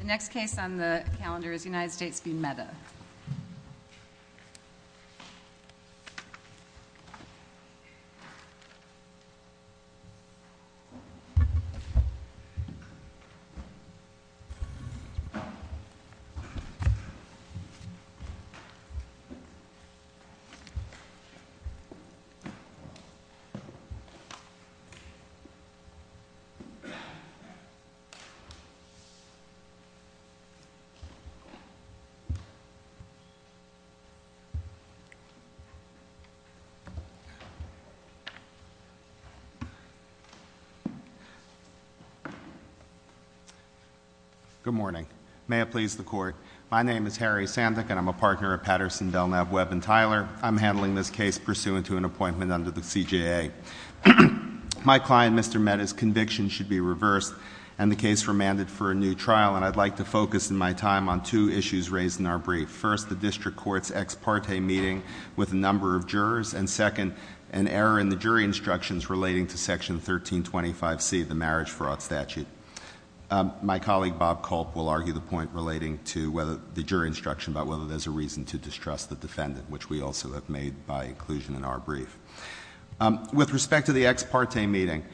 The next case on the calendar is United States v. MEDA. Good morning. May it please the Court. My name is Harry Sandek and I'm a partner at Patterson, Delknap, Webb & Tyler. I'm handling this case pursuant to an appointment under the CJA. My client, Mr. MEDA's conviction should be reversed and the case remanded for a new trial, and I'd like to focus in my time on two issues raised in our brief. First, the district court's ex parte meeting with a number of jurors, and second, an error in the jury instructions relating to Section 1325C, the marriage fraud statute. My colleague Bob Culp will argue the point relating to the jury instruction about whether there's a reason to distrust the defendant, which we also have made by inclusion in our brief. With respect to the ex parte meeting,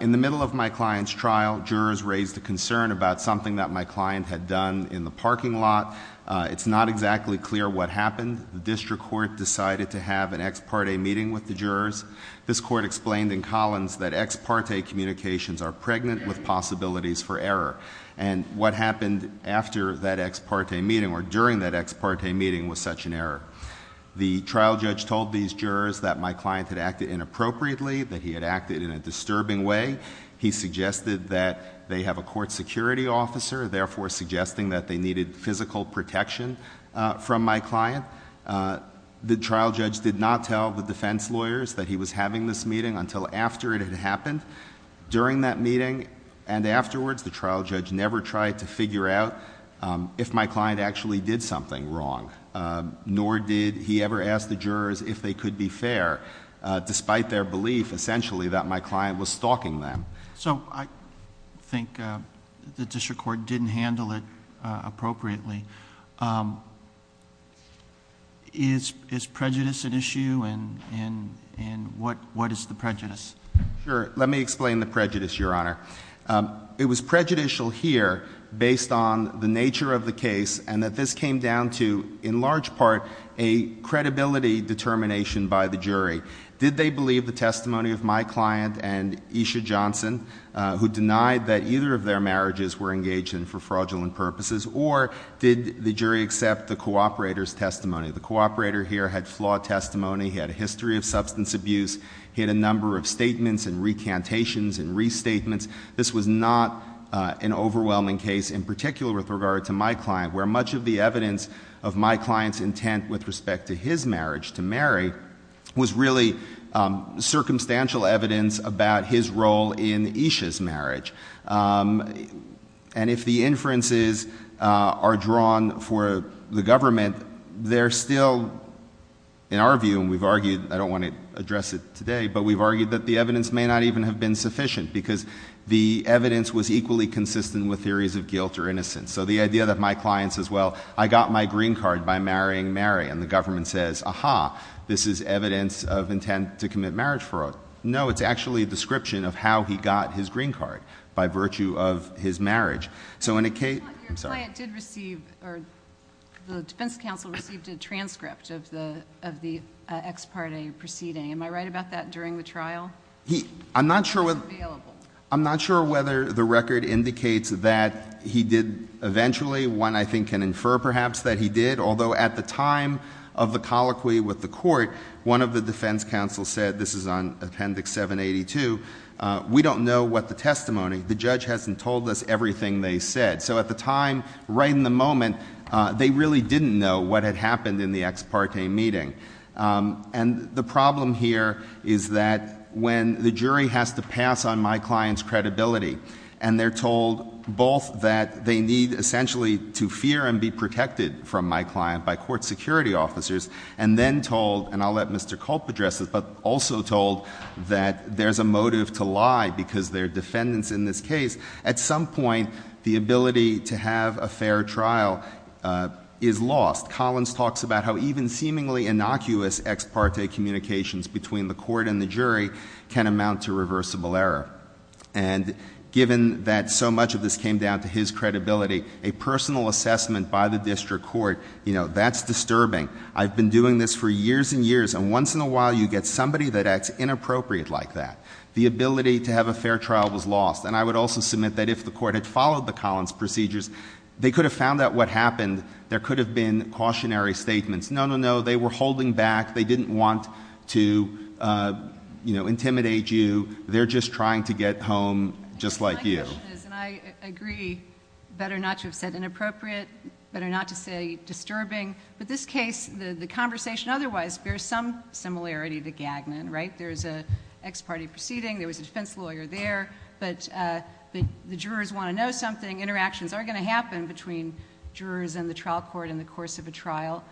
in the middle of my client's trial, jurors raised a concern about something that my client had done in the parking lot. It's not exactly clear what happened. The district court decided to have an ex parte meeting with the jurors. This court explained in Collins that ex parte communications are pregnant with possibilities for error, and what happened after that ex parte meeting or during that ex parte meeting was such an error. The trial judge told these jurors that my client had acted inappropriately, that he had acted in a disturbing way. He suggested that they have a court security officer, therefore suggesting that they needed physical protection from my client. The trial judge did not tell the defense lawyers that he was having this meeting until after it had happened. During that meeting and afterwards, the trial judge never tried to figure out if my client actually did something wrong, nor did he ever ask the jurors if they could be fair, despite their belief, essentially, that my client was stalking them. So I think the district court didn't handle it appropriately. Is prejudice an issue, and what is the prejudice? Sure. Let me explain the prejudice, Your Honor. It was prejudicial here based on the nature of the case, and that this came down to, in large part, a credibility determination by the jury. Did they believe the testimony of my client and Esha Johnson, who denied that either of their marriages were engaged in for fraudulent purposes, or did the jury accept the cooperator's testimony? The cooperator here had flawed testimony. He had a history of substance abuse. He had a number of statements and recantations and restatements. This was not an overwhelming case, in particular with regard to my client, where much of the evidence of my client's intent with respect to his marriage to Mary was really circumstantial evidence about his role in Esha's marriage. And if the inferences are drawn for the government, they're still, in our view, and we've argued, I don't want to address it today, but we've argued that this evidence was equally consistent with theories of guilt or innocence. So the idea that my client says, well, I got my green card by marrying Mary, and the government says, aha, this is evidence of intent to commit marriage fraud. No, it's actually a description of how he got his green card, by virtue of his marriage. Your client did receive, or the defense counsel received a transcript of the ex parte proceeding. Am I right about that, during the trial? I'm not sure whether the record indicates that he did eventually. One, I think, can infer, perhaps, that he did, although at the time of the colloquy with the court, one of the defense counsels said, this is on Appendix 782, we don't know what the testimony, the judge hasn't told us everything they said. So at the time, right in the moment, they really didn't know what had happened in the ex parte meeting. And the problem here is that when the jury has to pass on my client's credibility, and they're told both that they need essentially to fear and be protected from my client by court security officers, and then told, and I'll let Mr. Culp address this, but also told that there's a motive to lie because there are defendants in this case, at some point, the ability to have a fair trial is lost. Collins talks about how even seemingly innocuous ex parte communications between the court and the jury can amount to reversible error. And given that so much of this came down to his credibility, a personal assessment by the district court, you know, that's disturbing. I've been doing this for years and years, and once in a while you get somebody that acts inappropriate like that. The ability to have a fair trial was lost. And I would also submit that if the court had followed the Collins procedures, they could have found out what happened. There could have been cautionary statements. No, no, no, they were holding back. They didn't want to, you know, intimidate you. They're just trying to get home just like you. My question is, and I agree, better not to have said inappropriate, better not to say disturbing, but this case, the conversation otherwise, bears some similarity to Gagnon, right? There's an ex parte proceeding, there was a defense lawyer there, but the jurors want to know something. Interactions are going to happen between jurors and the trial court in the course of a trial.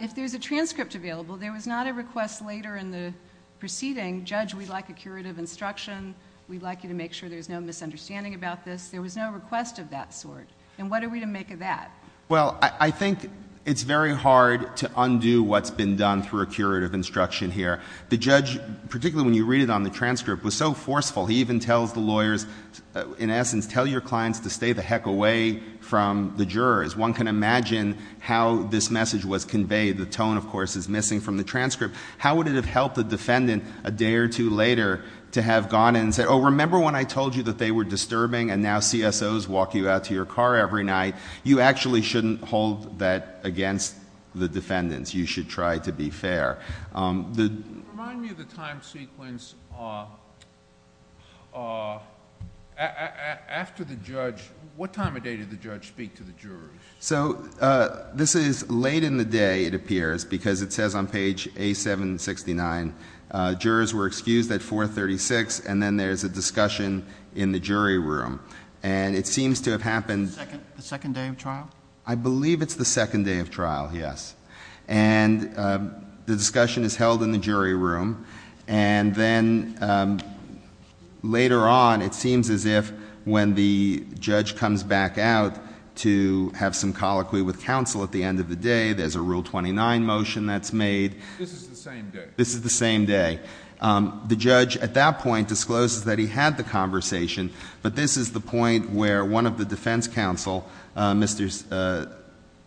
If there's a transcript available, there was not a request later in the proceeding, judge, we'd like a curative instruction, we'd like you to make sure there's no misunderstanding about this. There was no request of that sort. And what are we to make of that? Well, I think it's very hard to undo what's been done through a curative instruction here. The judge, particularly when you read it on the transcript, was so forceful, he even tells the lawyers, in essence, tell your clients to stay the heck away from the jurors. One can imagine how this message was conveyed. The tone, of course, is missing from the transcript. How would it have helped the defendant a day or two later to have gone in and said, oh, remember when I told you that they were disturbing and now CSOs walk you out to your car every night? You actually shouldn't hold that against the defendants. You should try to be fair. Remind me of the time sequence after the judge, what time of day did the judge speak to the jury? So this is late in the day, it appears, because it says on page A769, jurors were excused at 436, and then there's a discussion in the jury room. And it seems to have happened The second day of trial? I believe it's the second day of trial, yes. And the discussion is held in the jury room. And then later on, it seems as if when the judge comes back out to have some colloquy with counsel at the end of the day, there's a Rule 29 motion that's made. This is the same day? This is the same day. The judge, at that point, discloses that he had the conversation, but this is the point where one of the defense counsel, Mr.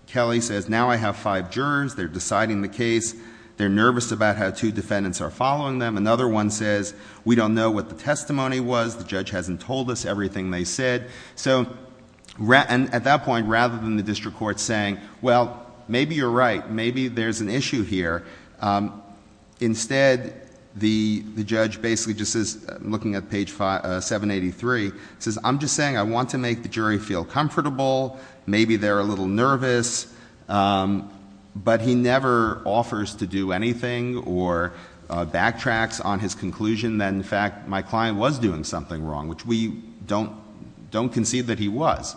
Kelly says, now I have five jurors, they're deciding the case, they're nervous about how two defendants are following them. Another one says, we don't know what the testimony was, the judge hasn't told us everything they said. So at that point, rather than the district court saying, well, maybe you're right, maybe there's an issue here. Instead, the judge basically just says, looking at page 783, says, I'm just saying I want to make the jury feel comfortable, maybe they're a little nervous, but he never offers to do anything or backtracks on his conclusion that in fact my client was doing something wrong, which we don't concede that he was.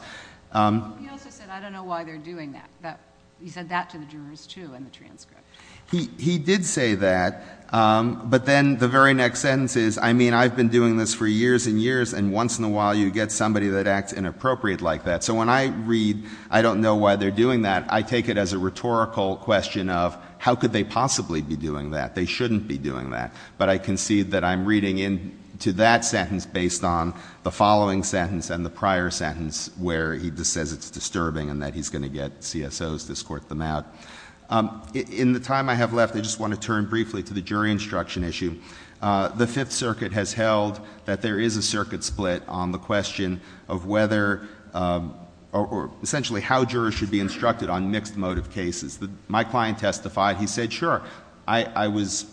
He also said, I don't know why they're doing that. He said that to the jurors, too, in the transcript. He did say that, but then the very next sentence is, I mean, I've been doing this for years and years, and once in a while you get somebody that acts inappropriate like that. So when I read, I don't know why they're doing that, I take it as a rhetorical question of, how could they possibly be doing that? They shouldn't be doing that. But I concede that I'm reading into that sentence based on the following sentence and the prior sentence where he just says it's disturbing and that he's going to get CSOs to squirt them out. In the time I have left, I just want to turn briefly to the jury instruction issue. The Fifth Circuit has held that there is a circuit split on the question of whether, or essentially how jurors should be instructed on mixed motive cases. My client testified, he said, sure, I was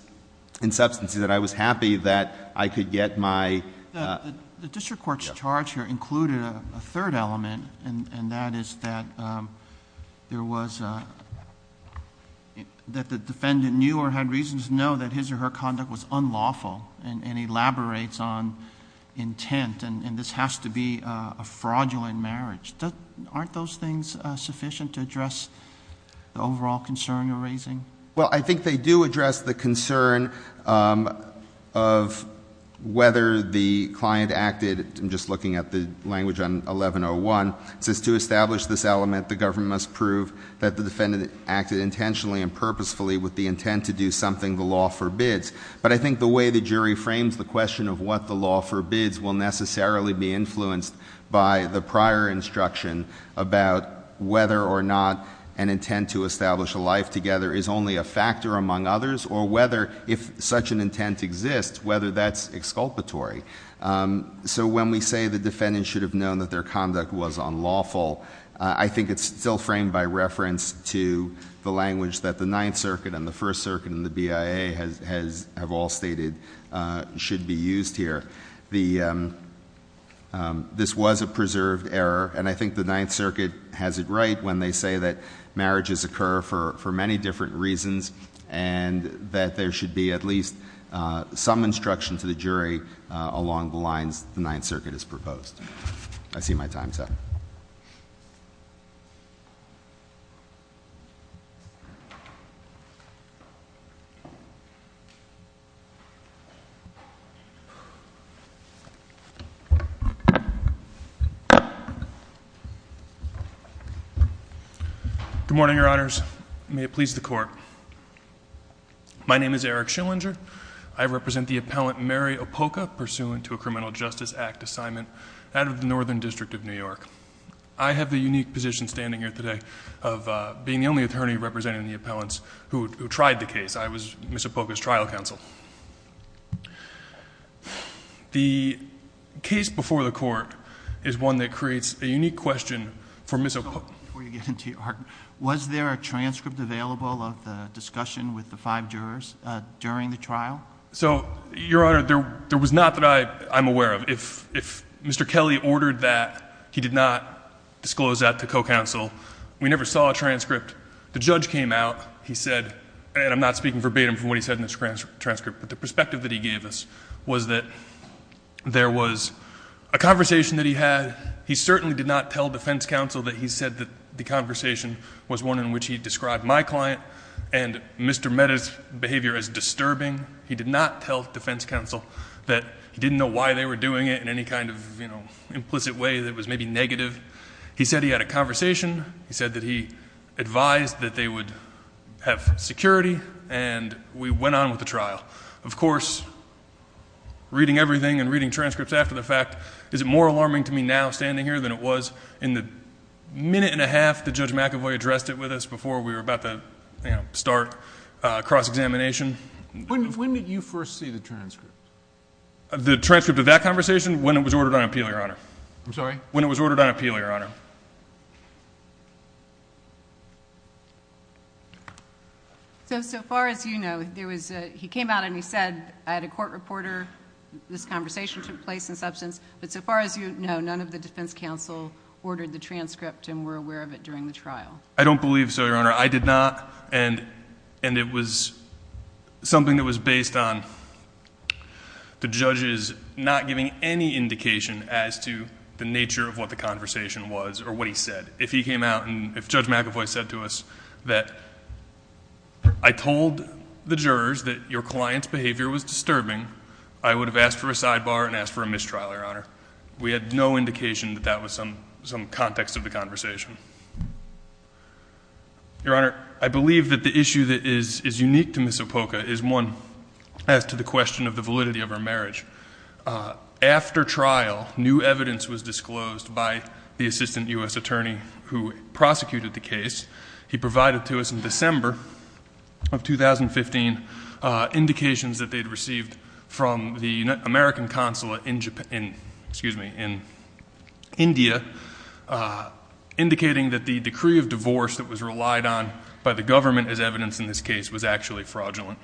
in substance that I was happy that I could get my... The district court's charge here included a third element, and that is that there was a, that the defendant knew or had reasons to know that his or her conduct was unlawful and elaborates on intent, and this has to be a fraudulent marriage. Aren't those things sufficient to address the overall concern you're raising? Well, I think they do address the concern of whether the client acted, I'm just looking at the language on 1101, it says to establish this element, the government must prove that the defendant acted intentionally and purposefully with the intent to do something the law forbids. But I think the way the jury frames the question of what the law forbids will necessarily be influenced by the prior instruction about whether or not an intent to establish a life together is only a factor among others, or whether, if such an intent exists, whether that's exculpatory. So when we say the defendant should have known that their conduct was unlawful, I think it's still framed by reference to the language that the Ninth Circuit and the First Circuit and the BIA have all stated should be used here. This was a preserved error, and I think the Ninth Circuit has it right when they say that marriages occur for many different reasons and that there should be at least some instruction to the jury along the lines the Ninth Circuit has proposed. I see my time's up. Good morning, Your Honors. May it please the Court. My name is Eric Schillinger. I represent the appellant Mary Opoca, pursuant to a Criminal Justice Act assignment out of the Northern District of New York. I have the unique position standing here today of being the only attorney representing the appellants who tried the case. I was Ms. Opoca's trial counsel. The case before the Court is one that creates a unique question for Ms. Opoca. Was there a transcript available of the discussion with the five jurors during the trial? So, Your Honor, there was not that I'm aware of. If Mr. Kelly ordered that, he did not disclose that to co-counsel. We never saw a transcript. The judge came out. He said, and I'm not speaking verbatim from what he said in the transcript, but the perspective that he gave us was that there was a conversation that he had. He certainly did not tell defense counsel that he said that the conversation was one in which he described my client and Mr. Mehta's behavior as disturbing. He did not tell defense counsel that he didn't know why they were doing it in any kind of implicit way that was maybe negative. He said he had a conversation. He said that he advised that they would have security, and we went on with the trial. Of course, reading everything and reading transcripts after the fact is more alarming to me now standing here than it was in the minute and a half that Judge McAvoy addressed it with us before we were about to start cross-examination. When did you first see the transcript? The transcript of that conversation? When it was ordered on appeal, Your Honor. I'm sorry? When it was ordered on appeal, Your Honor. So, so far as you know, there was a, he came out and he said, I had a court reporter, this conversation took place in substance, but so far as you know, none of the defense counsel ordered the transcript and were aware of it during the trial. I don't believe so, Your Honor. I did not. And, and it was something that was based on the judges not giving any indication as to the nature of what the conversation was or what he said. If he came out and if Judge McAvoy said to us that I told the jurors that your client's behavior was disturbing, I would have asked for a sidebar and asked for a mistrial, Your Honor. We had no indication that that was some, some context of the conversation. Your Honor, I believe that the issue that is, is unique to Miss Opoka is one as to the question of the validity of her marriage. After trial, new evidence was disclosed by the assistant U.S. attorney who prosecuted the case. He provided to us in December of 2015 indications that they'd received from the American consulate in Japan, excuse me, in India, indicating that the decree of divorce that was relied on by the government as evidence in this case was actually fraudulent.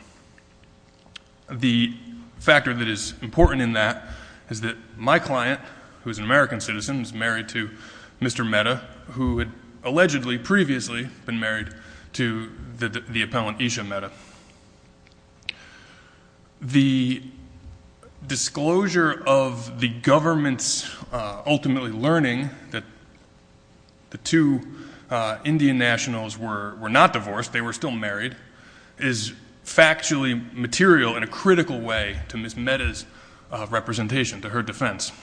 The factor that is important in that is that my client, who is an American citizen, was married to Mr. Mehta, who had allegedly previously been married to the, the appellant Isha Mehta. The disclosure of the government's ultimately learning that the two Indian nationals were, were not divorced, they were still married, is factually material in a critical way to Miss Mehta's representation, to her defense.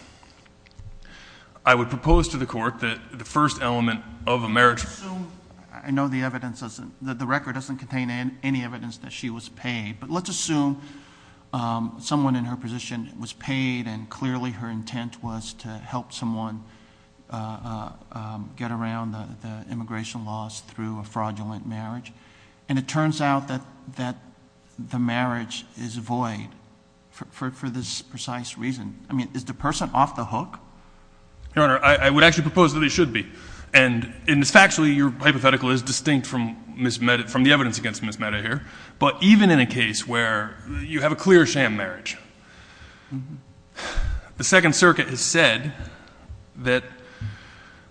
I would propose to the court that the first element of a marriage... Let's assume, I know the evidence doesn't, the record doesn't contain any evidence that she was paid, but let's assume someone in her position was paid and clearly her intent was to help someone get around the, the immigration laws through a fraudulent marriage. And it turns out that, that the marriage is void for, for this precise reason. I mean, is the person off the hook? Your Honor, I, I would actually propose that they should be. And factually, your hypothetical is distinct from Miss Mehta, from the evidence against Miss Mehta here. But even in a case where you have a clear sham marriage, the Second Circuit has said that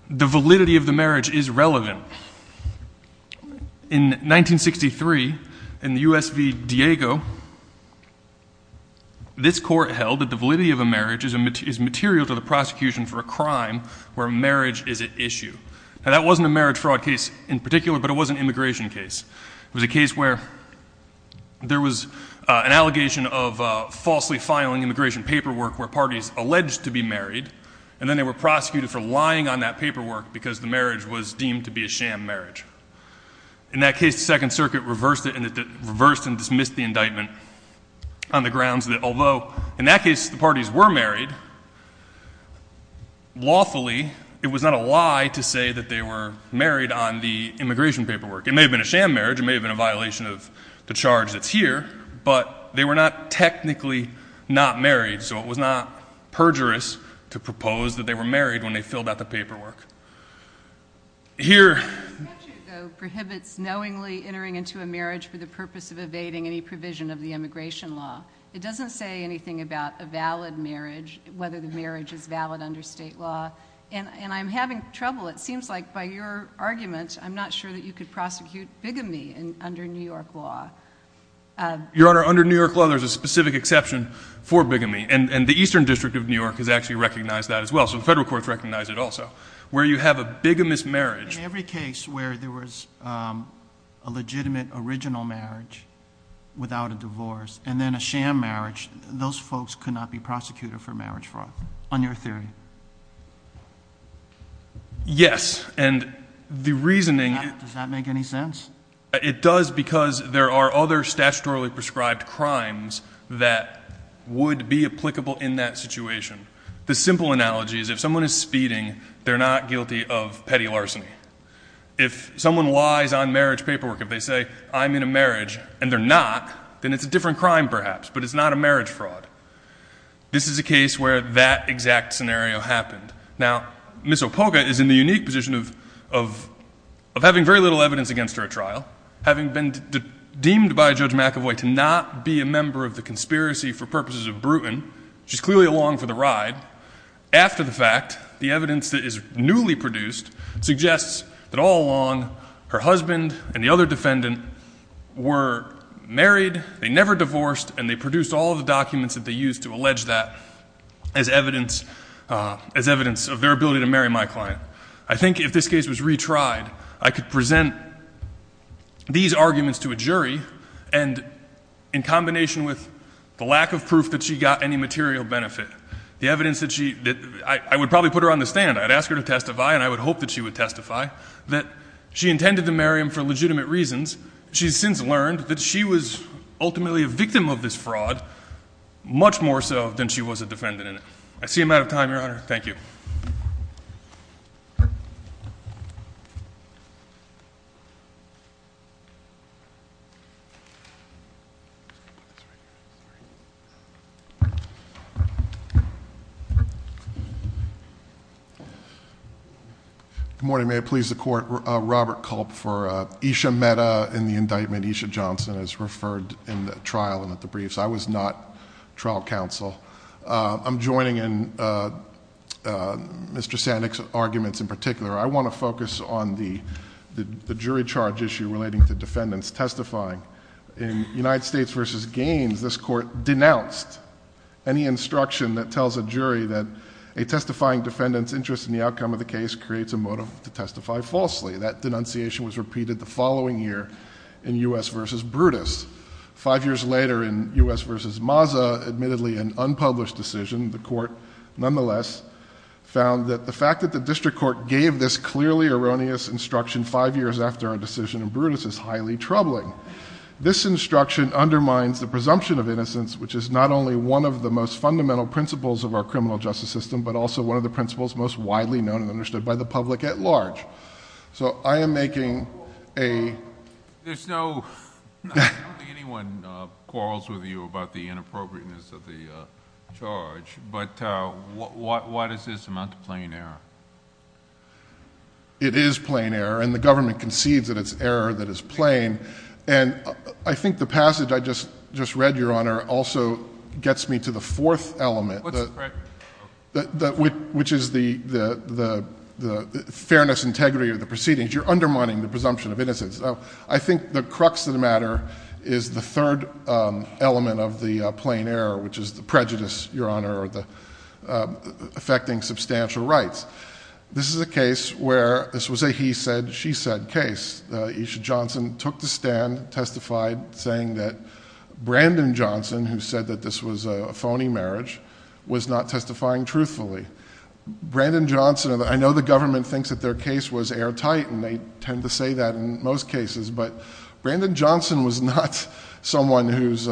the validity of the marriage is relevant. In 1963, in the U.S. v. Diego, this court held that the validity of a marriage is, is material to the prosecution for a crime where marriage is at issue. Now, that wasn't a marriage fraud case in particular, but it was an immigration case. It was a case where there was an allegation of falsely filing immigration paperwork where parties alleged to be married, and then they were prosecuted for lying on that paperwork because the marriage was deemed to be a sham marriage. In that case, the Second Circuit reversed it and it reversed and dismissed the indictment on the grounds that although, in that case, the parties were married, lawfully, it was not a lie to say that they were married on the immigration paperwork. It may have been a sham marriage, it may have been a violation of the charge that's here, but they were not technically not married, so it was not perjurous to propose that they were married when they filled out the paperwork. Here... The Second Circuit, though, prohibits knowingly entering into a marriage for the purpose of marriage, whether the marriage is valid under state law, and I'm having trouble. It seems like by your argument, I'm not sure that you could prosecute bigamy under New York law. Your Honor, under New York law, there's a specific exception for bigamy, and the Eastern District of New York has actually recognized that as well, so the federal courts recognize it also. Where you have a bigamist marriage... In every case where there was a legitimate original marriage without a divorce, and then a sham marriage, those folks could not be prosecuted for marriage fraud, on your theory. Yes, and the reasoning... Does that make any sense? It does because there are other statutorily prescribed crimes that would be applicable in that situation. The simple analogy is if someone is speeding, they're not guilty of petty larceny. If someone lies on marriage paperwork, if they say, I'm in a marriage, and they're not, then it's a different crime perhaps, but it's not a marriage fraud. This is a case where that exact scenario happened. Now, Ms. Opoka is in the unique position of having very little evidence against her at trial, having been deemed by Judge McAvoy to not be a member of the conspiracy for purposes of bruton. She's clearly along for the ride. After the fact, the evidence that is newly produced suggests that all along, her husband and the other defendant were married, they never divorced, and they produced all the documents that they used to allege that as evidence of their ability to marry my client. I think if this case was retried, I could present these arguments to a jury, and in combination with the lack of proof that she got any material benefit, the evidence that she... I would probably put her on the stand. I'd ask her to testify, and I would hope that she would testify, that she intended to marry him for legitimate reasons. She's since learned that she was ultimately a victim of this fraud, much more so than she was a defendant in it. I see I'm out of time, Your Honor. Thank you. Good morning. May it please the Court, Robert Culp for Esha Mehta in the indictment. Esha Johnson is referred in the trial and at the briefs. I was not trial counsel. I'm joining in Mr. Sandek's arguments in particular. I want to focus on the jury charge issue relating to defendants testifying. In United States v. Gaines, this court denounced any instruction that tells a jury that a testifying defendant's interest in the outcome of the case creates a motive to testify falsely. That denunciation was repeated the following year in U.S. v. Brutus. Five years later in U.S. v. Mazza, admittedly an unpublished decision, the court nonetheless found that the fact that the district court gave this clearly erroneous instruction five years after our decision in Brutus is highly troubling. This instruction undermines the presumption of innocence, which is not only one of the most fundamental principles of our criminal justice system, but also one of the principles most widely known and understood by the public at large. So I am making a... There's no... I don't think anyone quarrels with you about the inappropriateness of the charge, but why does this amount to plain error? It is plain error, and the government concedes that it's error that is plain. And I think the passage I just read, Your Honor, also gets me to the fourth element, which is the fairness and integrity of the proceedings. You're undermining the presumption of innocence. I think the crux of the matter is the third element of the plain error, which is the prejudice, Your Honor, affecting substantial rights. This is a case where this was a he said, she said case. Isha Johnson took the stand, testified, saying that Brandon Johnson, who said that this was a phony marriage, was not testifying truthfully. Brandon Johnson... I know the government thinks that their case was airtight, and they tend to say that in most cases, but Brandon Johnson was not someone whose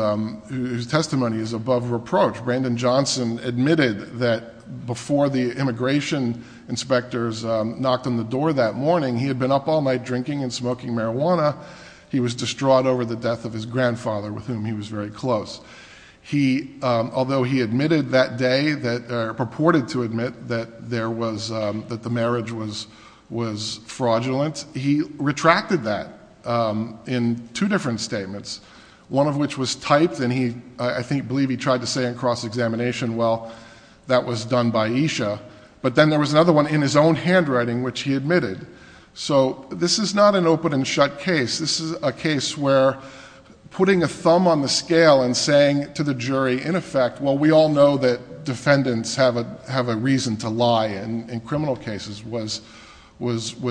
testimony is above reproach. Brandon Johnson admitted that before the immigration inspectors knocked on the door that morning, he had been up all night drinking and smoking marijuana. He was distraught over the death of his grandfather, with whom he was very close. Although he admitted that day, purported to admit, that the marriage was fraudulent, he retracted that in two different statements, one of which was typed, and I believe he tried to say in cross-examination, well, that was done by Isha. But then there was another one in his own handwriting, which he admitted. So this is not an open and shut case. This is a case where putting a thumb on the scale and saying to the jury, in effect, well, we all know that defendants have a reason to lie in criminal cases, was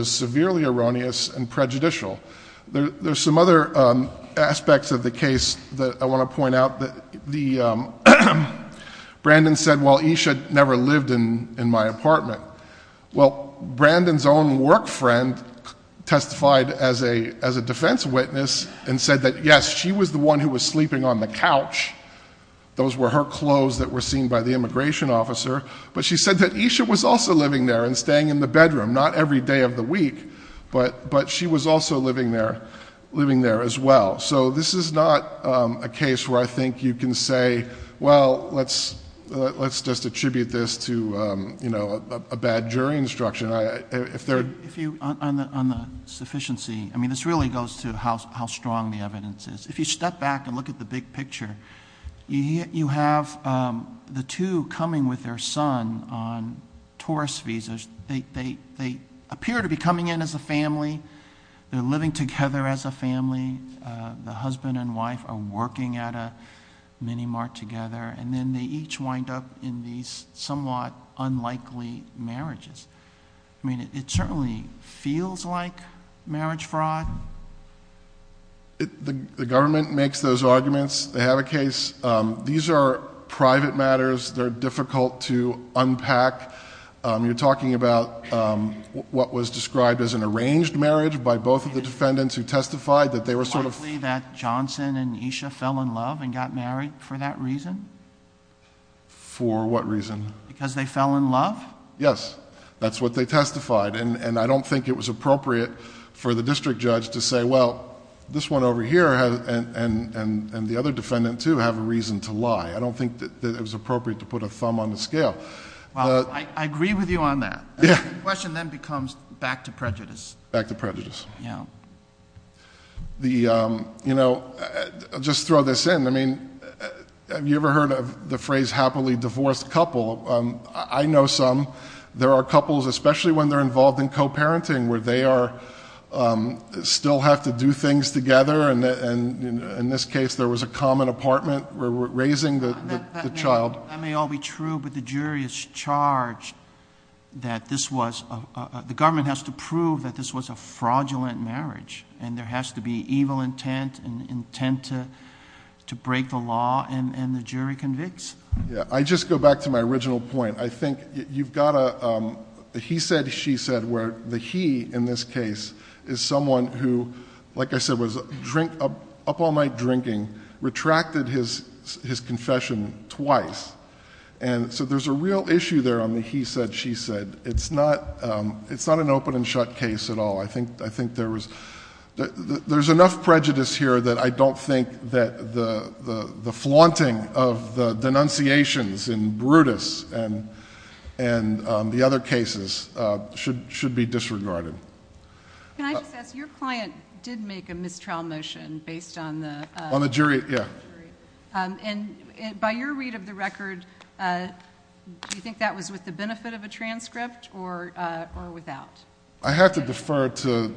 severely erroneous and prejudicial. There's some other aspects of the case that I want to point out. Brandon said, well, Isha never lived in my apartment. Well, Brandon's own work friend testified as a defense witness and said that, yes, she was the one who was sleeping on the couch. Those were her clothes that were seen by the immigration officer. But she said that Isha was also living there and staying in the bedroom, not every day of the week, but she was also living there as well. So this is not a case where I think you can say, well, let's just see. I mean, this really goes to how strong the evidence is. If you step back and look at the big picture, you have the two coming with their son on tourist visas. They appear to be coming in as a family. They're living together as a family. The husband and wife are working at a mini mart together. And then they each wind up in these somewhat unlikely marriages. I mean, it certainly feels like marriage fraud. The government makes those arguments. They have a case. These are private matters. They're difficult to unpack. You're talking about what was described as an arranged marriage by both of the defendants who testified that they were sort of... Is it likely that Johnson and Isha fell in love and got married for that reason? For what reason? Because they fell in love? Yes. That's what they testified. And I don't think it was appropriate for the district judge to say, well, this one over here and the other defendant too have a reason to lie. I don't think that it was appropriate to put a thumb on the scale. Well, I agree with you on that. The question then becomes back to prejudice. Back to prejudice. Yeah. You know, I'll just throw this in. I mean, have you ever heard of the phrase happily divorced couple? I know some. There are couples, especially when they're involved in co-parenting, where they are... still have to do things together. And in this case, there was a common apartment where we're raising the child. That may all be true, but the jury is charged that this was... the government has to prove that this was a fraudulent marriage. And there has to be evil intent and intent to break the law and the jury convicts. Yeah. I just go back to my original point. I think you've got a he said, she said, where the he in this case is someone who, like I said, was up all night drinking, retracted his confession twice. And so there's a real issue there on the he said, she said. It's not an open and shut case at all. I think there was... there's enough prejudice here that I don't think that the flaunting of the denunciations in Brutus and the other cases should be disregarded. Can I just ask, your client did make a mistrial motion based on the... On the jury, yeah. And by your read of the record, do you think that was with the benefit of a transcript or without? I have to defer to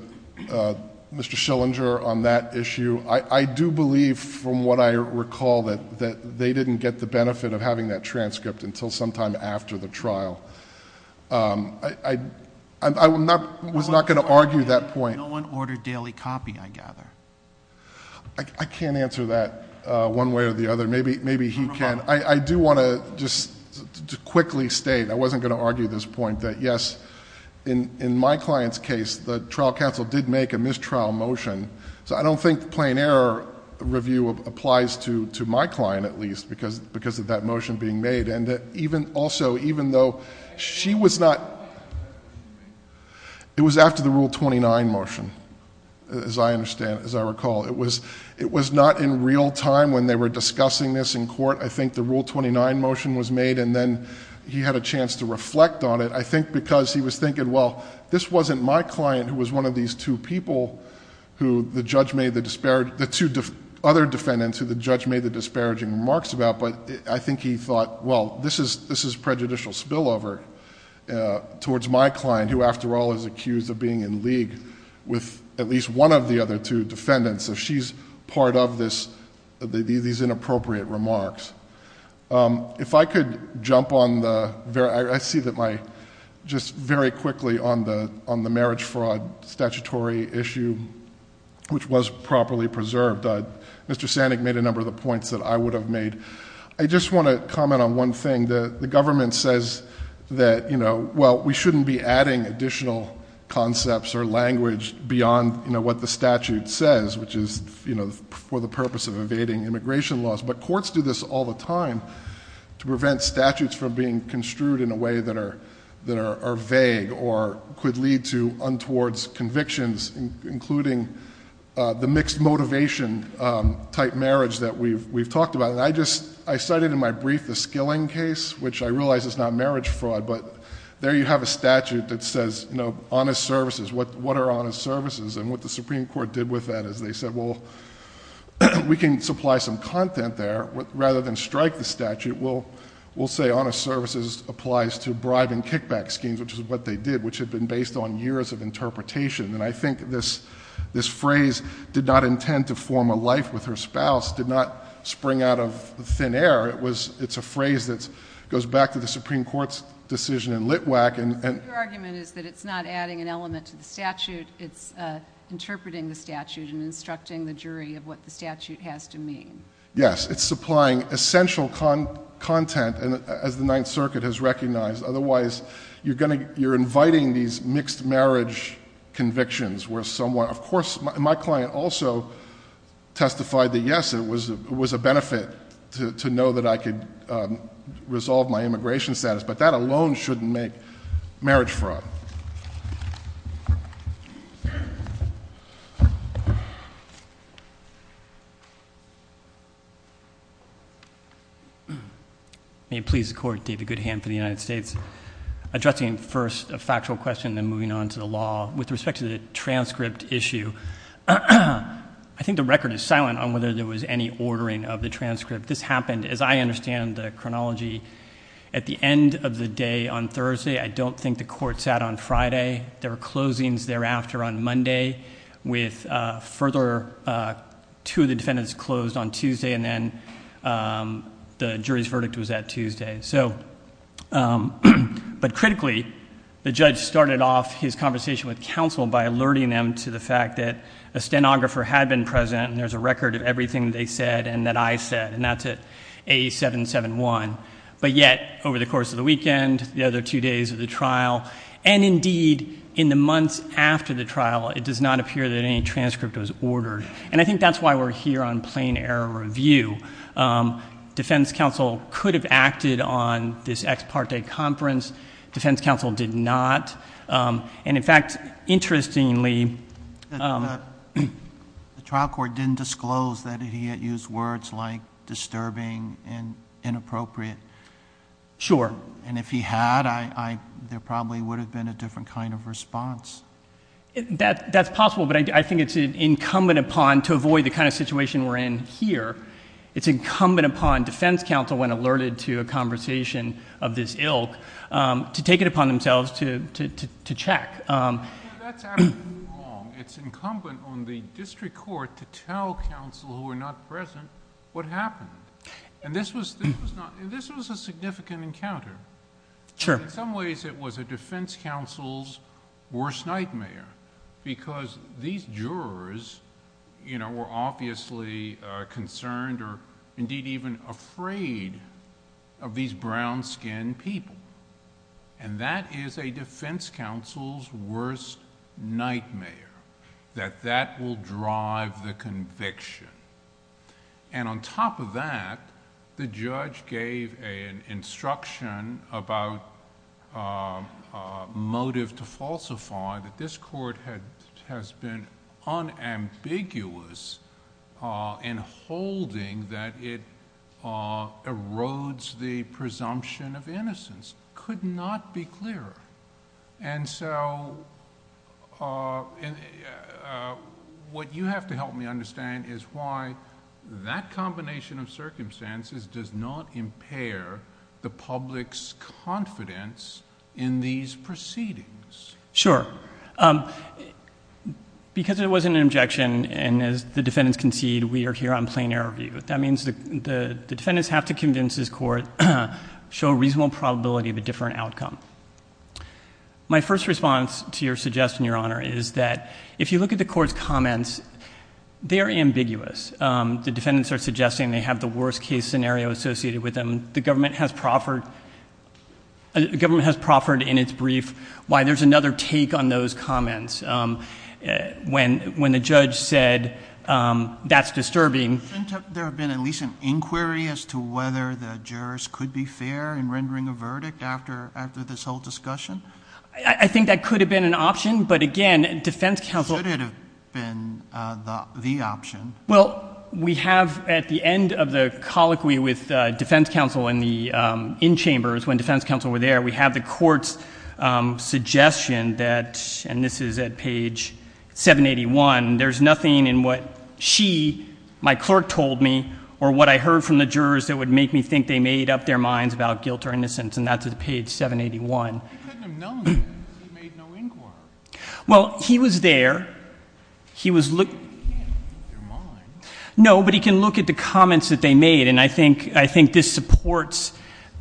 Mr. Schillinger on that issue. I do believe, from what I recall, that they didn't get the benefit of having that transcript until sometime after the trial. I was not going to argue that point. No one ordered daily copy, I gather. I can't answer that one way or the other. Maybe he can. I do want to just quickly state, I wasn't going to argue this point, that yes, in my client's case, the trial counsel did make a mistrial motion. So I don't think the plain error review applies to my client, at least, because of that motion being made. And also, even though she was not... it was after the Rule 29 motion, as I recall. It was not in real time when they were discussing this in court. I think the Rule 29 motion was made and then he had a chance to reflect on it. I think because he was thinking, well, this wasn't my client who was one of these two people who the judge made the disparaging... the two other defendants who the judge made the disparaging remarks about, but I think he thought, well, this is prejudicial spillover towards my client, who after all is accused of being in league with at least one of the other two defendants. So she's part of these inappropriate remarks. If I could jump on the... I see that my... just very quickly on the marriage fraud statutory issue, which was properly preserved. Mr. Sannick made a number of the points that I would have made. I just want to comment on one thing. The government says that, well, we shouldn't be adding additional concepts or language beyond what the statute says, which is for the purpose of evading immigration laws. But courts do this all the time to prevent statutes from being construed in a way that are vague or could lead to untowards convictions, including the mixed motivation type marriage that we've talked about. I cited in my brief the Skilling case, which I realize is not marriage fraud, but there you have a statute that says honest services. What are honest services? And what the Supreme Court did with that is they said, well, we can supply some content there. Rather than strike the statute, we'll say honest services applies to bribe and kickback schemes, which is what they did, which had been based on years of interpretation. And I think this phrase, did not intend to form a life with her spouse, did not spring out of thin air. It's a phrase that goes back to the Supreme Court's decision in Litwack and... Yes, it's supplying essential content, as the Ninth Circuit has recognized. Otherwise, you're inviting these mixed marriage convictions where someone... of course, my client also testified that, yes, it was a benefit to know that I could resolve my immigration status, but that alone shouldn't make marriage fraud. May it please the Court, David Goodham for the United States. Addressing first a factual question and then moving on to the law. With respect to the transcript issue, I think the record is silent on whether there was any ordering of the transcript. This happened, as I understand the chronology, at the end of the day on Thursday. I don't think the Court sat on Friday. There were closings thereafter on Monday, with further... two of the defendants closed on Tuesday, and then the jury's verdict was at Tuesday. But critically, the judge started off his conversation with counsel by alerting them to the fact that a stenographer had been present, and there's a record of everything they said and that I said, and that's at A-771. But yet, over the course of the weekend, the other two days of the trial, and indeed, in the months after the trial, it does not appear that any transcript was ordered. And I think that's why we're here on plain error review. Defense counsel could have acted on this ex parte conference. Defense counsel did not. And in fact, interestingly... The trial court didn't disclose that he had used words like disturbing and inappropriate. Sure. And if he had, there probably would have been a different kind of response. That's possible, but I think it's incumbent upon... to avoid the kind of situation we're in here, it's incumbent upon defense counsel, when alerted to a conversation of this ilk, to take it upon themselves to check. That's absolutely wrong. It's incumbent on the district court to tell counsel who were not present what happened. And this was a significant encounter. Sure. In some ways, it was a defense counsel's worst nightmare, because these jurors, you know, were obviously concerned or indeed even afraid of these brown skinned people. And that is a defense counsel's worst nightmare, that that will drive the conviction. And on top of that, the judge gave an instruction about motive to falsify that this could not be clearer. And so, what you have to help me understand is why that combination of circumstances does not impair the public's confidence in these proceedings. Sure. Because it wasn't an objection, and as the defendants concede, we are here on plain error view. That means the defendants have to convince this is a probability of a different outcome. My first response to your suggestion, Your Honor, is that if you look at the court's comments, they are ambiguous. The defendants are suggesting they have the worst case scenario associated with them. The government has proffered in its brief why there's another take on those comments. When the judge said, that's disturbing. There have been at least an inquiry as to whether the jurors could be fair in rendering a verdict after this whole discussion? I think that could have been an option, but again, defense counsel Could it have been the option? Well, we have at the end of the colloquy with defense counsel in the in-chambers, when defense counsel were there, we have the court's suggestion that, and this is at page 781, there's nothing in what she, my clerk, told me, or what I heard from the jurors that would make me think they made up their minds about guilt or innocence, and that's at page 781. He couldn't have known. He made no inquiry. Well, he was there. He was looking. He can't make up their minds. No, but he can look at the comments that they made, and I think this supports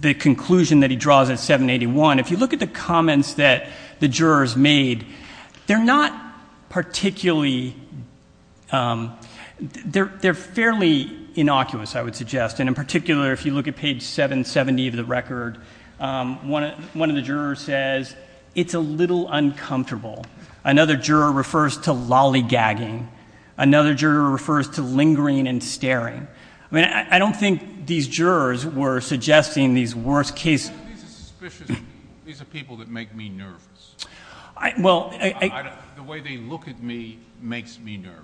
the conclusion that he draws at 781. If you look at the comments that the jurors made, they're not particularly, they're fairly innocuous, I would suggest, and in particular if you look at page 770 of the record, one of the jurors says, it's a little uncomfortable. Another juror refers to lollygagging. Another juror refers to lingering and staring. I mean, I don't think these jurors were suggesting these worst case scenarios. These are people that make me nervous. The way they look at me makes me nervous.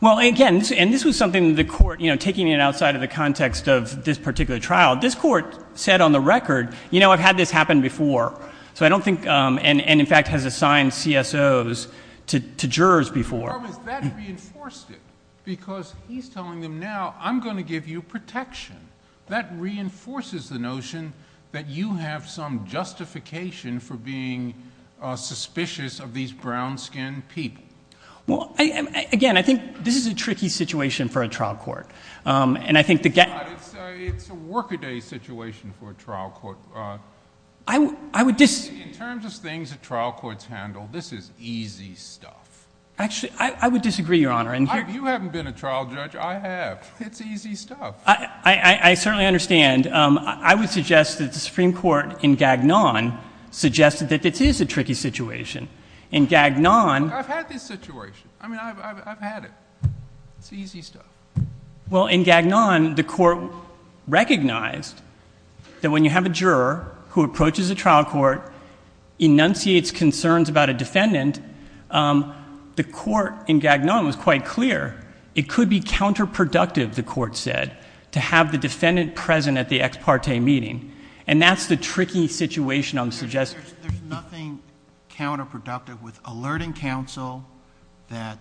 Well, again, and this was something that the court, you know, taking it outside of the context of this particular trial, this court said on the record, you know, I've had this happen before, so I don't think, and in fact has assigned CSOs to jurors before. That reinforced it, because he's telling them now, I'm going to give you protection. That reinforces the notion that you have some justification for being suspicious of these brown-skinned people. Well, again, I think this is a tricky situation for a trial court, and I think the It's a workaday situation for a trial court. I would disagree. In terms of things that trial courts handle, this is easy stuff. Actually, I would disagree, Your Honor. You haven't been a trial judge. I have. It's easy stuff. I certainly understand. I would suggest that the Supreme Court in Gagnon suggested that this is a tricky situation. In Gagnon— Look, I've had this situation. I mean, I've had it. It's easy stuff. Well, in Gagnon, the court recognized that when you have a juror who approaches a trial court, enunciates concerns about a defendant, the court in Gagnon was quite clear it could be counterproductive, the court said, to have the defendant present at the ex parte meeting, and that's the tricky situation I'm suggesting. There's nothing counterproductive with alerting counsel that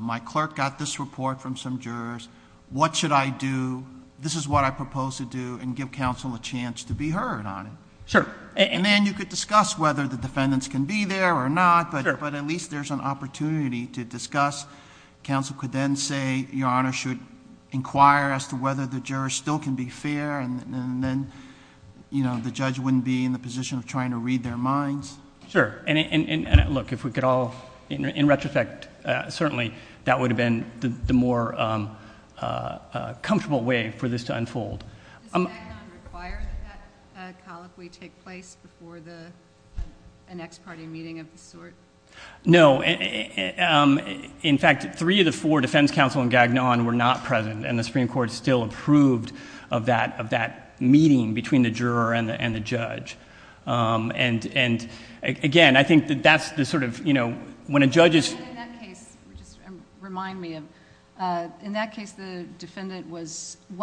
my clerk got this report from some jurors. What should I do? This is what I propose to do, and give counsel a chance to be heard on it. Sure. And then you could discuss whether the defendants can be there or not, but at least there's an opportunity to discuss. Counsel could then say, Your Honor, should inquire as to whether the jurors still can be fair, and then the judge wouldn't be in the position of trying to read their minds. Sure. And look, if we could all, in retrospect, certainly that would have been the more comfortable way for this to unfold. Does Gagnon require that that colloquy take place before an ex parte meeting of this sort? No. In fact, three of the four defense counsel in Gagnon were not present, and the Supreme Court still approved of that meeting between the juror and the judge. Again, I think that's the sort of... when a judge is... In that case, remind me, in that case, one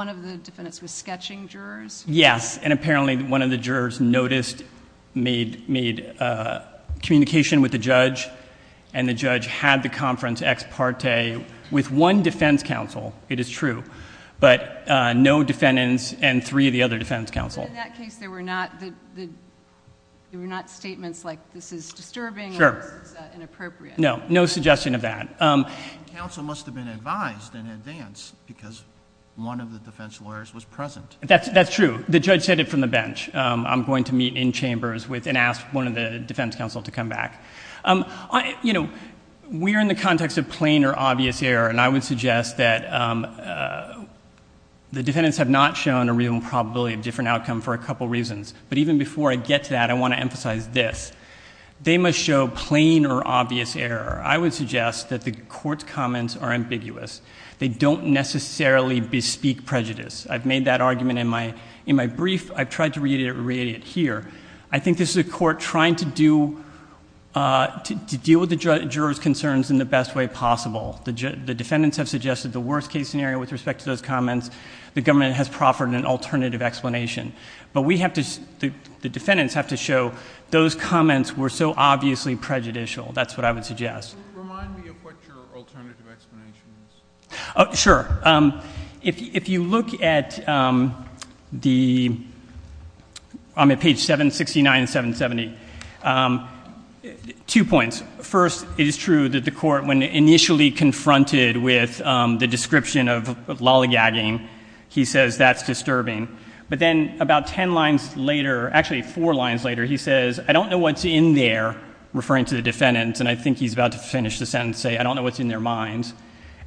of the defendants was sketching jurors? Yes. Yes, and apparently, one of the jurors noticed, made communication with the judge, and the judge had the conference ex parte with one defense counsel. It is true, but no defendants and three of the other defense counsel. In that case, there were not statements like, This is disturbing or this is inappropriate? No. No suggestion of that. Counsel must have been advised in advance because one of the defense lawyers was present. That's true. That's true. The judge said it from the bench. I'm going to meet in chambers with... and ask one of the defense counsel to come back. You know, we are in the context of plain or obvious error, and I would suggest that the defendants have not shown a real improbability of different outcome for a couple of reasons. But even before I get to that, I want to emphasize this. They must show plain or obvious error. I would suggest that the Court's comments are ambiguous. They don't necessarily bespeak prejudice. I've made that argument in my brief. I've tried to reiterate it here. I think this is a Court trying to do... to deal with the jurors' concerns in the best way possible. The defendants have suggested the worst case scenario with respect to those comments. The government has proffered an alternative explanation. But we have to... the defendants have to show those comments were so obviously prejudicial. That's what I would suggest. Could you remind me of what your alternative explanation is? Sure. If you look at the... I'm at page 769 and 770. Two points. First, it is true that the Court, when initially confronted with the description of lollygagging, he says, that's disturbing. But then about ten lines later, actually four lines later, he says, I don't know what's in there, referring to the defendants, and I think he's about to finish the sentence, say, I don't know what's in their minds.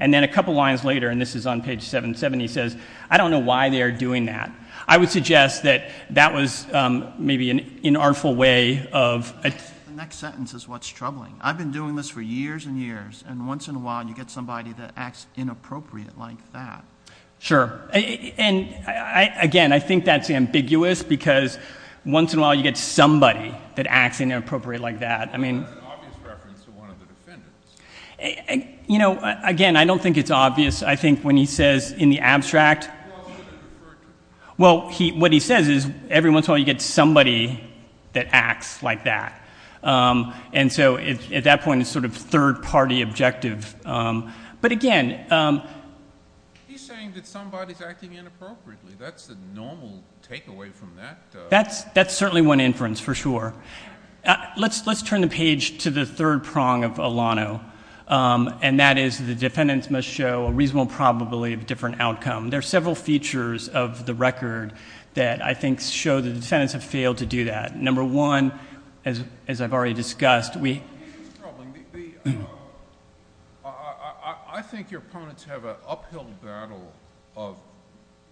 And then a couple lines later, and this is on page 770, he says, I don't know why they are doing that. I would suggest that that was maybe an inartful way of... The next sentence is what's troubling. I've been doing this for years and years, and once in a while you get somebody that acts inappropriate like that. Sure. And again, I think that's ambiguous because once in a while you get somebody that acts inappropriate like that. I mean... Again, I don't think it's obvious. I think when he says in the abstract... Well, what he says is every once in a while you get somebody that acts like that. And so at that point, it's sort of third-party objective. But again... He's saying that somebody's acting inappropriately. That's the normal takeaway from that. That's certainly one inference, for sure. Let's turn the page to the third prong of Alano. And that is the defendants must show a reasonable probability of a different outcome. There are several features of the record that I think show the defendants have failed to do that. Number one, as I've already discussed... I think your opponents have an uphill battle of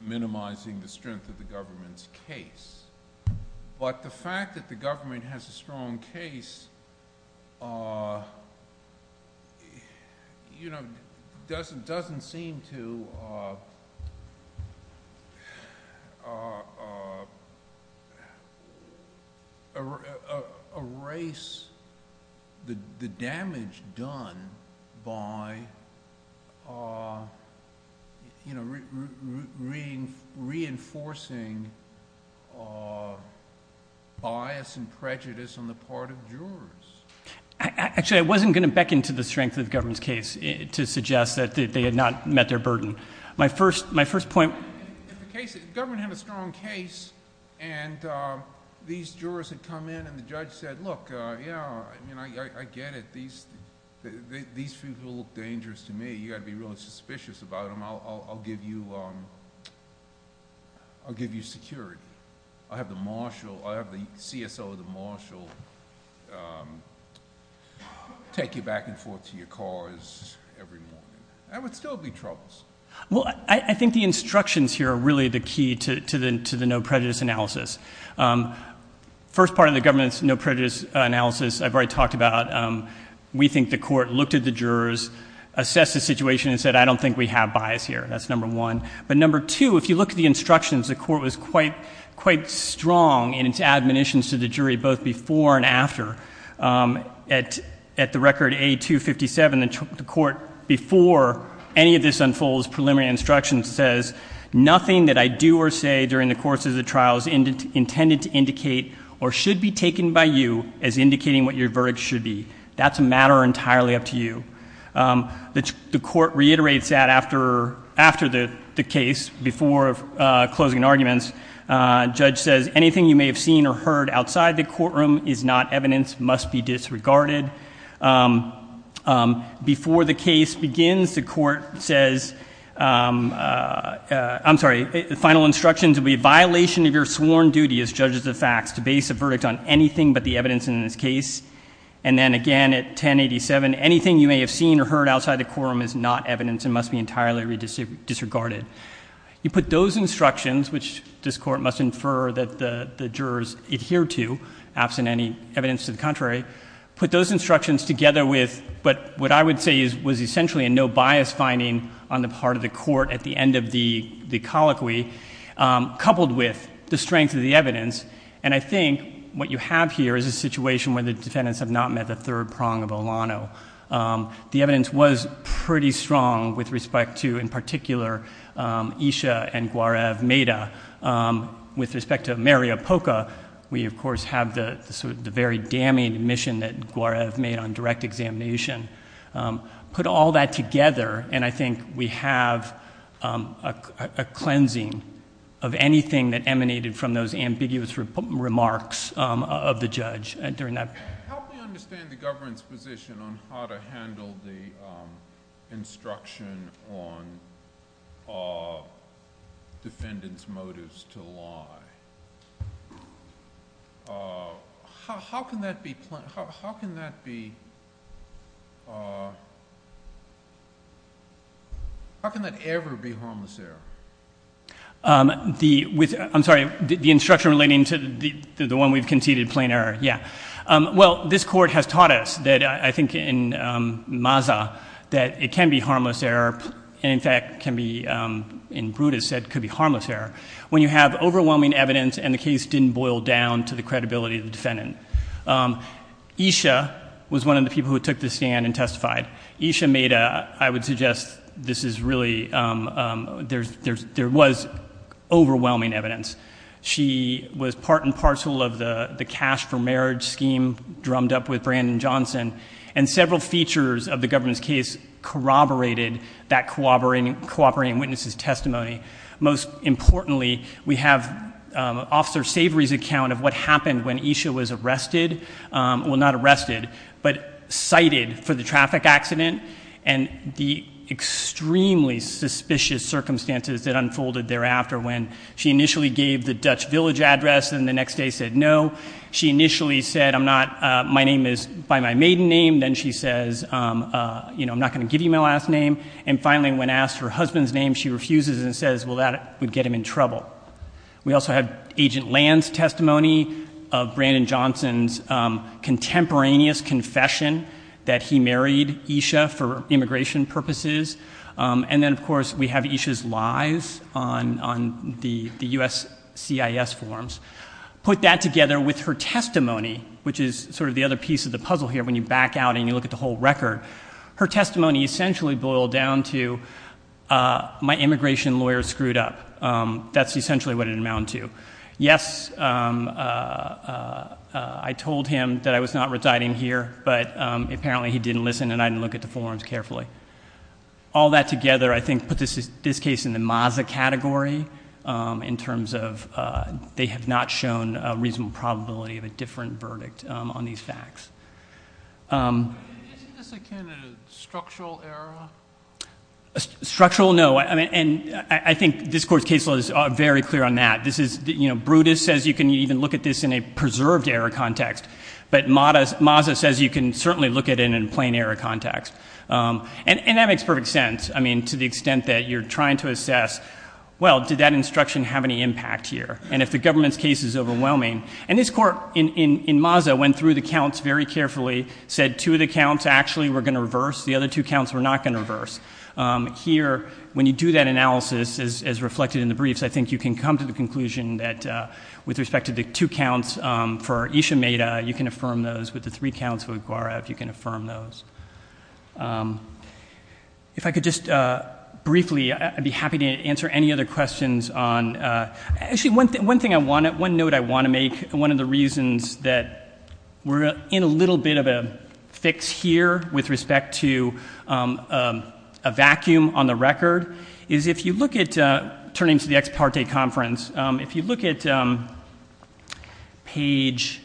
minimizing the strength of the government's case. But the fact that the government has a strong case doesn't seem to erase the bias and prejudice on the part of jurors. Actually, I wasn't going to beckon to the strength of the government's case to suggest that they had not met their burden. My first point... If the government had a strong case and these jurors had come in and the judge said, look, yeah, I get it, these people look dangerous to me, you've got to be really suspicious about them, I'll give you security. I'll have the CSO of the marshal take you back and forth to your cars every morning. That would still be troubles. Well, I think the instructions here are really the key to the no prejudice analysis. First part of the government's no prejudice analysis I've already talked about. We think the court looked at the jurors, assessed the situation and said, I don't think we have bias here. That's number one. Number two, if you look at the instructions, the court was quite strong in its admonitions to the jury both before and after. At the record A257, the court before any of this unfolds preliminary instructions says, nothing that I do or say during the course of the trial is intended to indicate or should be taken by you as indicating what your verdict should be. That's a matter entirely up to you. The court reiterates that after the case before closing arguments. Judge says, anything you may have seen or heard outside the courtroom is not evidence, must be disregarded. Before the case begins, the court says, I'm sorry, the final instructions will be violation of your sworn duty as judges of facts to base a verdict on anything but the evidence in this case. And then again at 1087, anything you may have seen or heard outside the courtroom is not evidence and must be entirely disregarded. You put those instructions, which this court must infer that the jurors adhere to, absent any evidence to the contrary, put those instructions together with what I would say was essentially a no bias finding on the part of the court at the end of the colloquy, coupled with the strength of the evidence. And I think what you have here is a situation where the defendants have not met the third prong of Olano. The evidence was pretty strong with respect to, in particular, Isha and Guarev Meda. With respect to Maria Poca, we of course have the very damning admission that Guarev made on direct examination. Put all that together and I think we have a cleansing of anything that anyone knew on behalf of the defendant and fruitfully, guilt illegal or beneficial was in this case was certainly well known to the judges. And there are still those sorts ofances, but the emphasis is certain mean that the defendant was offended. The one we've conceded plain error, yeah, well, this court has taught us that I think in Maza that it can be harmless error and in fact can be in Brutus said could be harmless error when you have overwhelming evidence and the case didn't boil down to the credibility of the defendant. Um, Esha was one of the people who took the stand and testified Esha made a, I would suggest this is really, um, um, there's, there's, there was overwhelming evidence. She was part and parcel of the cash for marriage scheme, drummed up with Brandon Johnson and several features of the government's case corroborated that cooperating, cooperating witnesses testimony. Most importantly, we have, um, officer savory's account of what happened when Esha was arrested. Um, well not arrested, but cited for the traffic accident and the extremely suspicious circumstances that unfolded thereafter when she initially gave the Dutch village address and the next day said no. She initially said, I'm not, uh, my name is by my maiden name. Then she says, um, uh, you know, I'm not going to give you my last name. And finally, when asked her husband's name, she refuses and says, well, that would get him in trouble. We also have agent lands testimony of Brandon Johnson's, um, contemporaneous confession that he married Esha for immigration purposes. Um, and then of course we have Esha's lies on, on the, the US CIS forms. Put that together with her testimony, which is sort of the other piece of the puzzle here. When you back out and you look at the whole record, her testimony essentially boiled down to, uh, my immigration lawyer screwed up. Um, that's essentially what it amounted to. Yes, um, uh, uh, uh, I told him that I was not residing here, but, um, apparently he didn't listen and I didn't look at the forms carefully. All that together, I think, put this, this case in the Maza category, um, in terms of, uh, they have not shown a reasonable probability of a different verdict, um, on these facts. Um. Isn't this a candidate of structural error? Structural? No. I mean, and I think this court's case law is very clear on that. This is, you know, Brutus says you can even look at this in a preserved error context, but Maza, Maza says you can certainly look at it in a plain error context. Um, and, and that makes perfect sense. I mean, to the extent that you're trying to assess, well, did that instruction have any impact here? And if the government's case is overwhelming, and this court in, in, in Maza went through the counts very carefully, said two of the counts actually were going to reverse. The other two counts were not going to reverse. Um, here, when you do that analysis, as, as reflected in the briefs, I think you can come to the conclusion that, uh, with respect to the two counts, um, for Isha Mehta, you can affirm those. With the three counts for Aguara, if you can affirm those. Um, if I could just, uh, briefly, I'd be happy to answer any other questions on, uh, actually, one thing, one thing I want to, one note I want to make, one of the reasons that we're in a little bit of a fix here with respect to, um, um, a vacuum on the record is if you look at, uh, turning to the ex parte conference, um, if you look at, um, page, page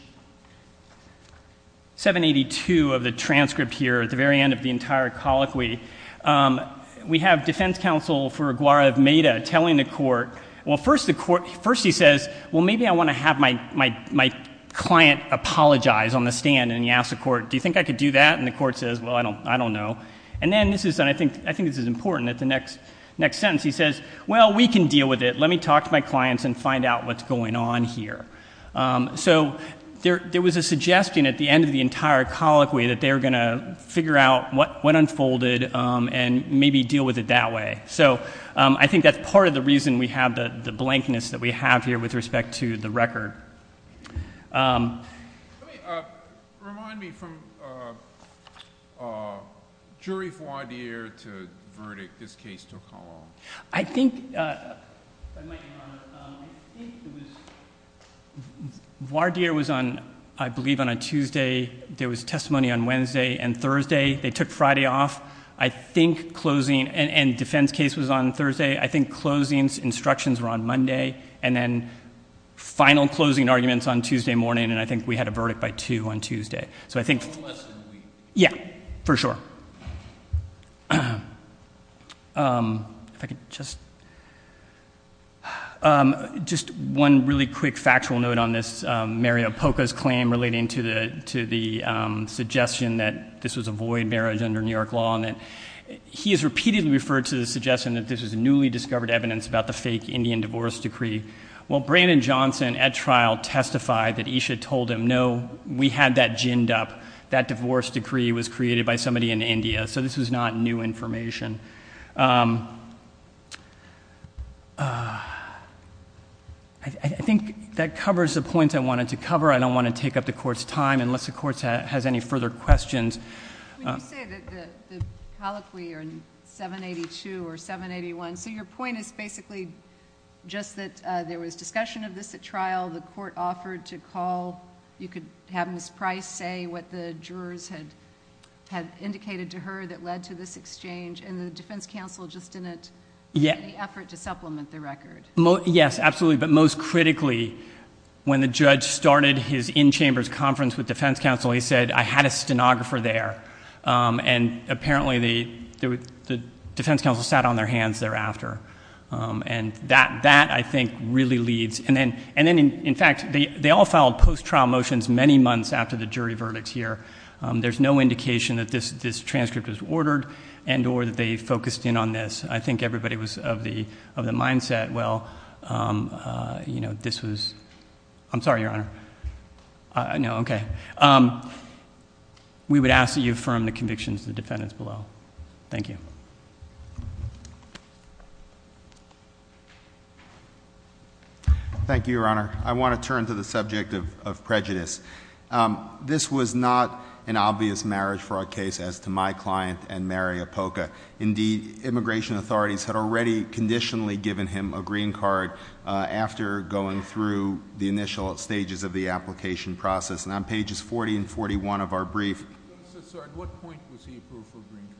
782 of the transcript here, at the very end of the entire colloquy, um, we have defense counsel for Aguara of Mehta telling the court, well, first the court, first he says, well, maybe I want to have my, my, my client apologize on the stand, and he asks the court, do you think I could do that, and the court says, well, I don't, I don't know, and then this is, and I think, I think this is important, at the next, next sentence, he says, well, we can deal with it, let me talk to my clients and find out what's going on here. Um, so, there, there was a suggestion at the end of the entire colloquy that they were going to figure out what, what unfolded, um, and maybe deal with it that way, so, um, I think that's part of the reason we have the, the blankness that we have here with respect to the record. Let me, uh, remind me from, uh, uh, jury voir dire to verdict, this case took how long? I think, uh, if I might be honored, um, I think it was, voir dire was on, I believe on a Tuesday, there was testimony on Wednesday and Thursday, they took Friday off, I think closing, and, and defense case was on Thursday, I think closing instructions were on Monday, and then final closing arguments on Tuesday morning, and I think we had a verdict by two on Tuesday, so I think... A little less than a week. Yeah, for sure. Um, if I could just... I, I think that covers the points I wanted to cover, I don't want to take up the Court's time unless the Court has any further questions. When you say that the, the colloquy are in 782 or 781, so your point is basically just that, uh, there was discussion of this at trial, the Court offered to call, you could have Ms. Price say what the jurors had, had indicated to her that led to this exchange, and the defense counsel just didn't...... make any effort to supplement the record. Yes, absolutely, but most critically, when the judge started his in-chambers conference with defense counsel, he said, I had a stenographer there, um, and apparently the, the defense counsel sat on their hands thereafter, um, and that, that I think really leads...... um, uh, you know, this was... I'm sorry, Your Honor. Uh, no, okay. Um, we would ask that you affirm the convictions of the defendants below. Thank you. Thank you, Your Honor. I want to turn to the subject of, of prejudice. Um, this was not an obvious marriage for our case as to my client and Mary Apoka. Indeed, immigration authorities had already conditionally given him a green card, uh, after going through the initial stages of the application process. And on pages 40 and 41 of our brief... So, sir, at what point was he approved for a green card?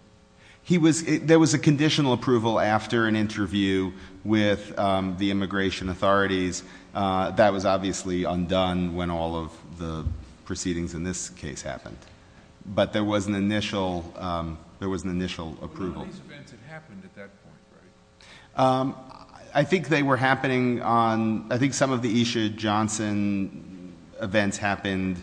He was... there was a conditional approval after an interview with, um, the immigration authorities. Uh, that was obviously undone when all of the proceedings in this case happened. But there was an initial, um, there was an initial approval. But none of these events had happened at that point, right? Um, I think they were happening on... I think some of the Esha Johnson events happened,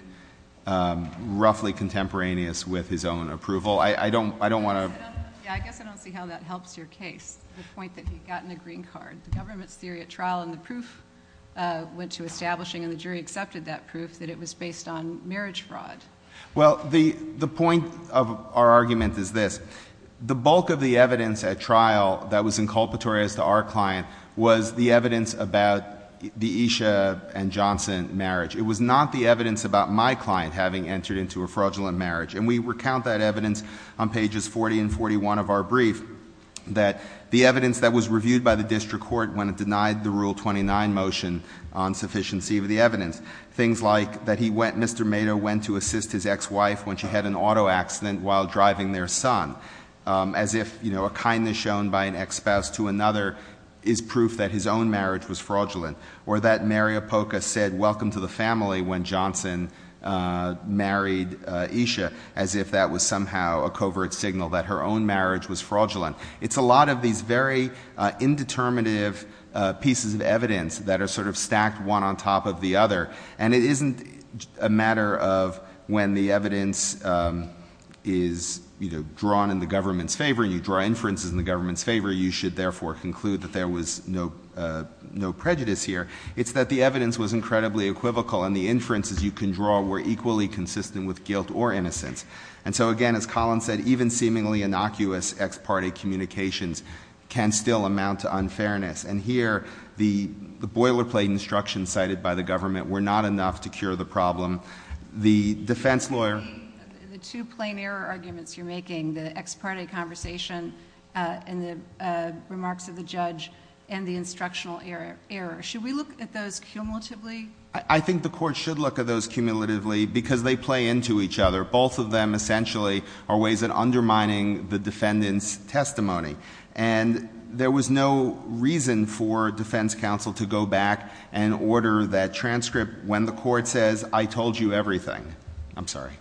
um, roughly contemporaneous with his own approval. I, I don't, I don't want to... Yeah, I guess I don't see how that helps your case, the point that he had gotten a green card. The government's theory at trial and the proof, uh, went to establishing and the jury accepted that proof that it was based on marriage fraud. Well, the, the point of our argument is this. The bulk of the evidence at trial that was inculpatory as to our client was the evidence about the Esha and Johnson marriage. It was not the evidence about my client having entered into a fraudulent marriage. And we recount that evidence on pages 40 and 41 of our brief. That the evidence that was reviewed by the district court when it denied the Rule 29 motion on sufficiency of the evidence. Things like that he went, Mr. Mato went to assist his ex-wife when she had an auto accident while driving their son. Um, as if, you know, a kindness shown by an ex-spouse to another is proof that his own marriage was fraudulent. Or that Mary Apoka said welcome to the family when Johnson, uh, married Esha. As if that was somehow a covert signal that her own marriage was fraudulent. It's a lot of these very, uh, indeterminative, uh, pieces of evidence that are sort of stacked one on top of the other. And it isn't a matter of when the evidence, um, is, you know, drawn in the government's favor. You draw inferences in the government's favor. You should therefore conclude that there was no, uh, no prejudice here. It's that the evidence was incredibly equivocal. And the inferences you can draw were equally consistent with guilt or innocence. And so again, as Colin said, even seemingly innocuous ex-party communications can still amount to unfairness. And here, the boilerplate instructions cited by the government were not enough to cure the problem. The defense lawyer- I think the court should look at those cumulatively because they play into each other. Both of them essentially are ways of undermining the defendant's testimony. And there was no reason for defense counsel to go back and order that transcript when the court says I told you everything. I'm sorry.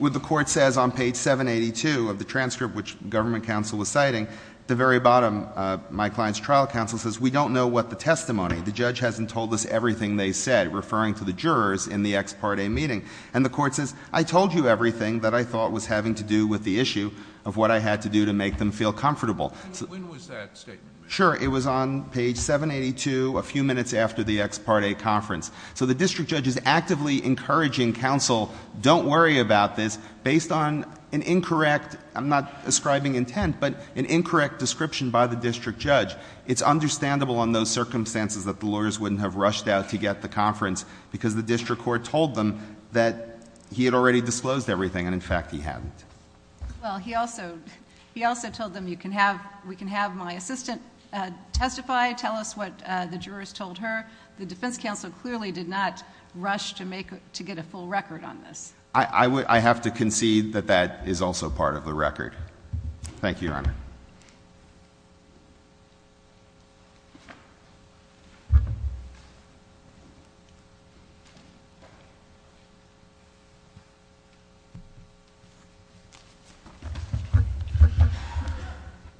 The court says on page 782 of the transcript which government counsel was citing, at the very bottom, my client's trial counsel says we don't know what the testimony. The judge hasn't told us everything they said, referring to the jurors in the ex-party meeting. And the court says I told you everything that I thought was having to do with the issue of what I had to do to make them feel comfortable. When was that statement made? Sure. It was on page 782, a few minutes after the ex-party conference. So the district judge is actively encouraging counsel, don't worry about this, based on an incorrect- I'm not ascribing intent, but an incorrect description by the district judge. It's understandable on those circumstances that the lawyers wouldn't have rushed out to get the conference because the district court told them that he had already disclosed everything and, in fact, he hadn't. Well, he also told them we can have my assistant testify, tell us what the jurors told her. The defense counsel clearly did not rush to get a full record on this. I have to concede that that is also part of the record. Thank you.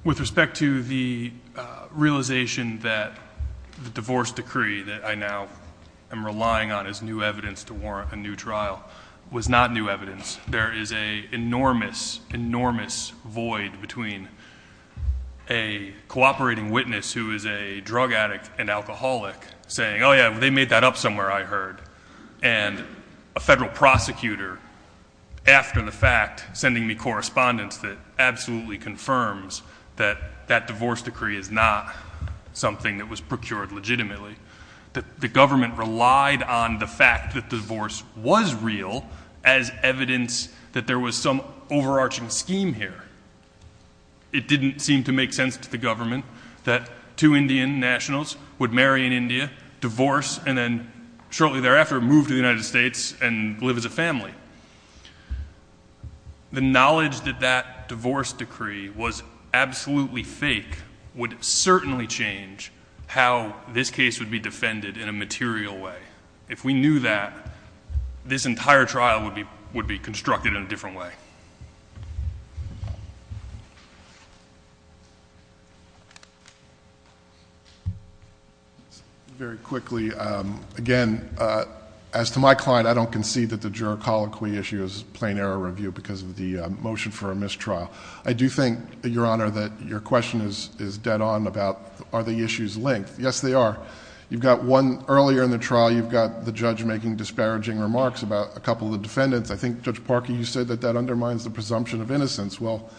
With respect to the realization that the divorce decree that I now am relying on as new evidence to warrant a new trial was not new evidence. There is an enormous, enormous void between a cooperating witness who is a drug addict and alcoholic saying, oh, yeah, they made that up somewhere, I heard, and a federal prosecutor, after the fact, sending me correspondence that absolutely confirms that that divorce decree is not something that was procured legitimately. The government relied on the fact that divorce was real as evidence that there was some overarching scheme here. It didn't seem to make sense to the government that two Indian nationals would marry in India, divorce, and then shortly thereafter move to the United States and live as a family. The knowledge that that divorce decree was absolutely fake would certainly change how this case would be defended in a material way. If we knew that, this entire trial would be constructed in a different way. Very quickly, again, as to my client, I don't concede that the juror colloquy issue is a plain error review because of the motion for a mistrial. I do think, Your Honor, that your question is dead on about are the issues linked. Yes, they are. You've got one earlier in the trial, you've got the judge making disparaging remarks about a couple of the defendants. I think, Judge Parker, you said that that undermines the presumption of innocence. Well,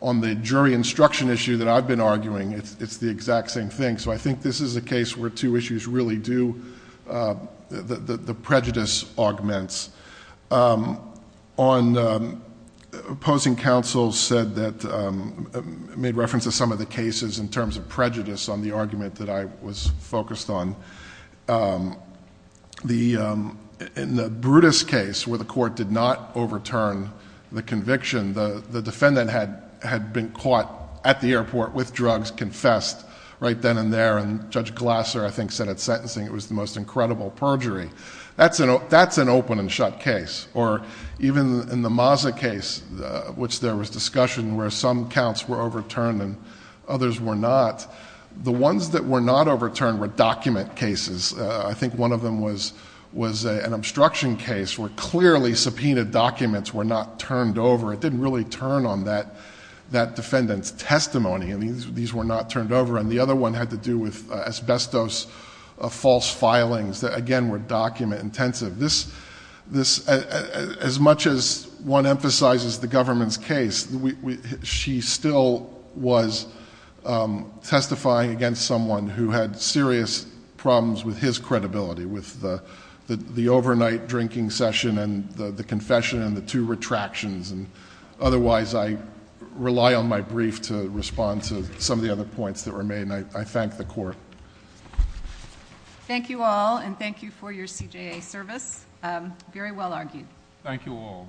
on the jury instruction issue that I've been arguing, it's the exact same thing. So I think this is a case where two issues really do, the prejudice augments. Opposing counsel said that, made reference to some of the cases in terms of prejudice on the argument that I was focused on. In the Brutus case where the court did not overturn the conviction, the defendant had been caught at the airport with drugs, confessed right then and there, and Judge Glasser, I think, said at sentencing it was the most incredible perjury. That's an open and shut case. Or even in the Maza case, which there was discussion where some counts were overturned and others were not, the ones that were not overturned were document cases. I think one of them was an obstruction case where clearly subpoenaed documents were not turned over. It didn't really turn on that defendant's testimony. These were not turned over. And the other one had to do with asbestos false filings that, again, were document intensive. As much as one emphasizes the government's case, she still was testifying against someone who had serious problems with his credibility, with the overnight drinking session and the confession and the two retractions. Otherwise, I rely on my brief to respond to some of the other points that were made, and I thank the court. Thank you all, and thank you for your CJA service. Very well argued. Thank you all.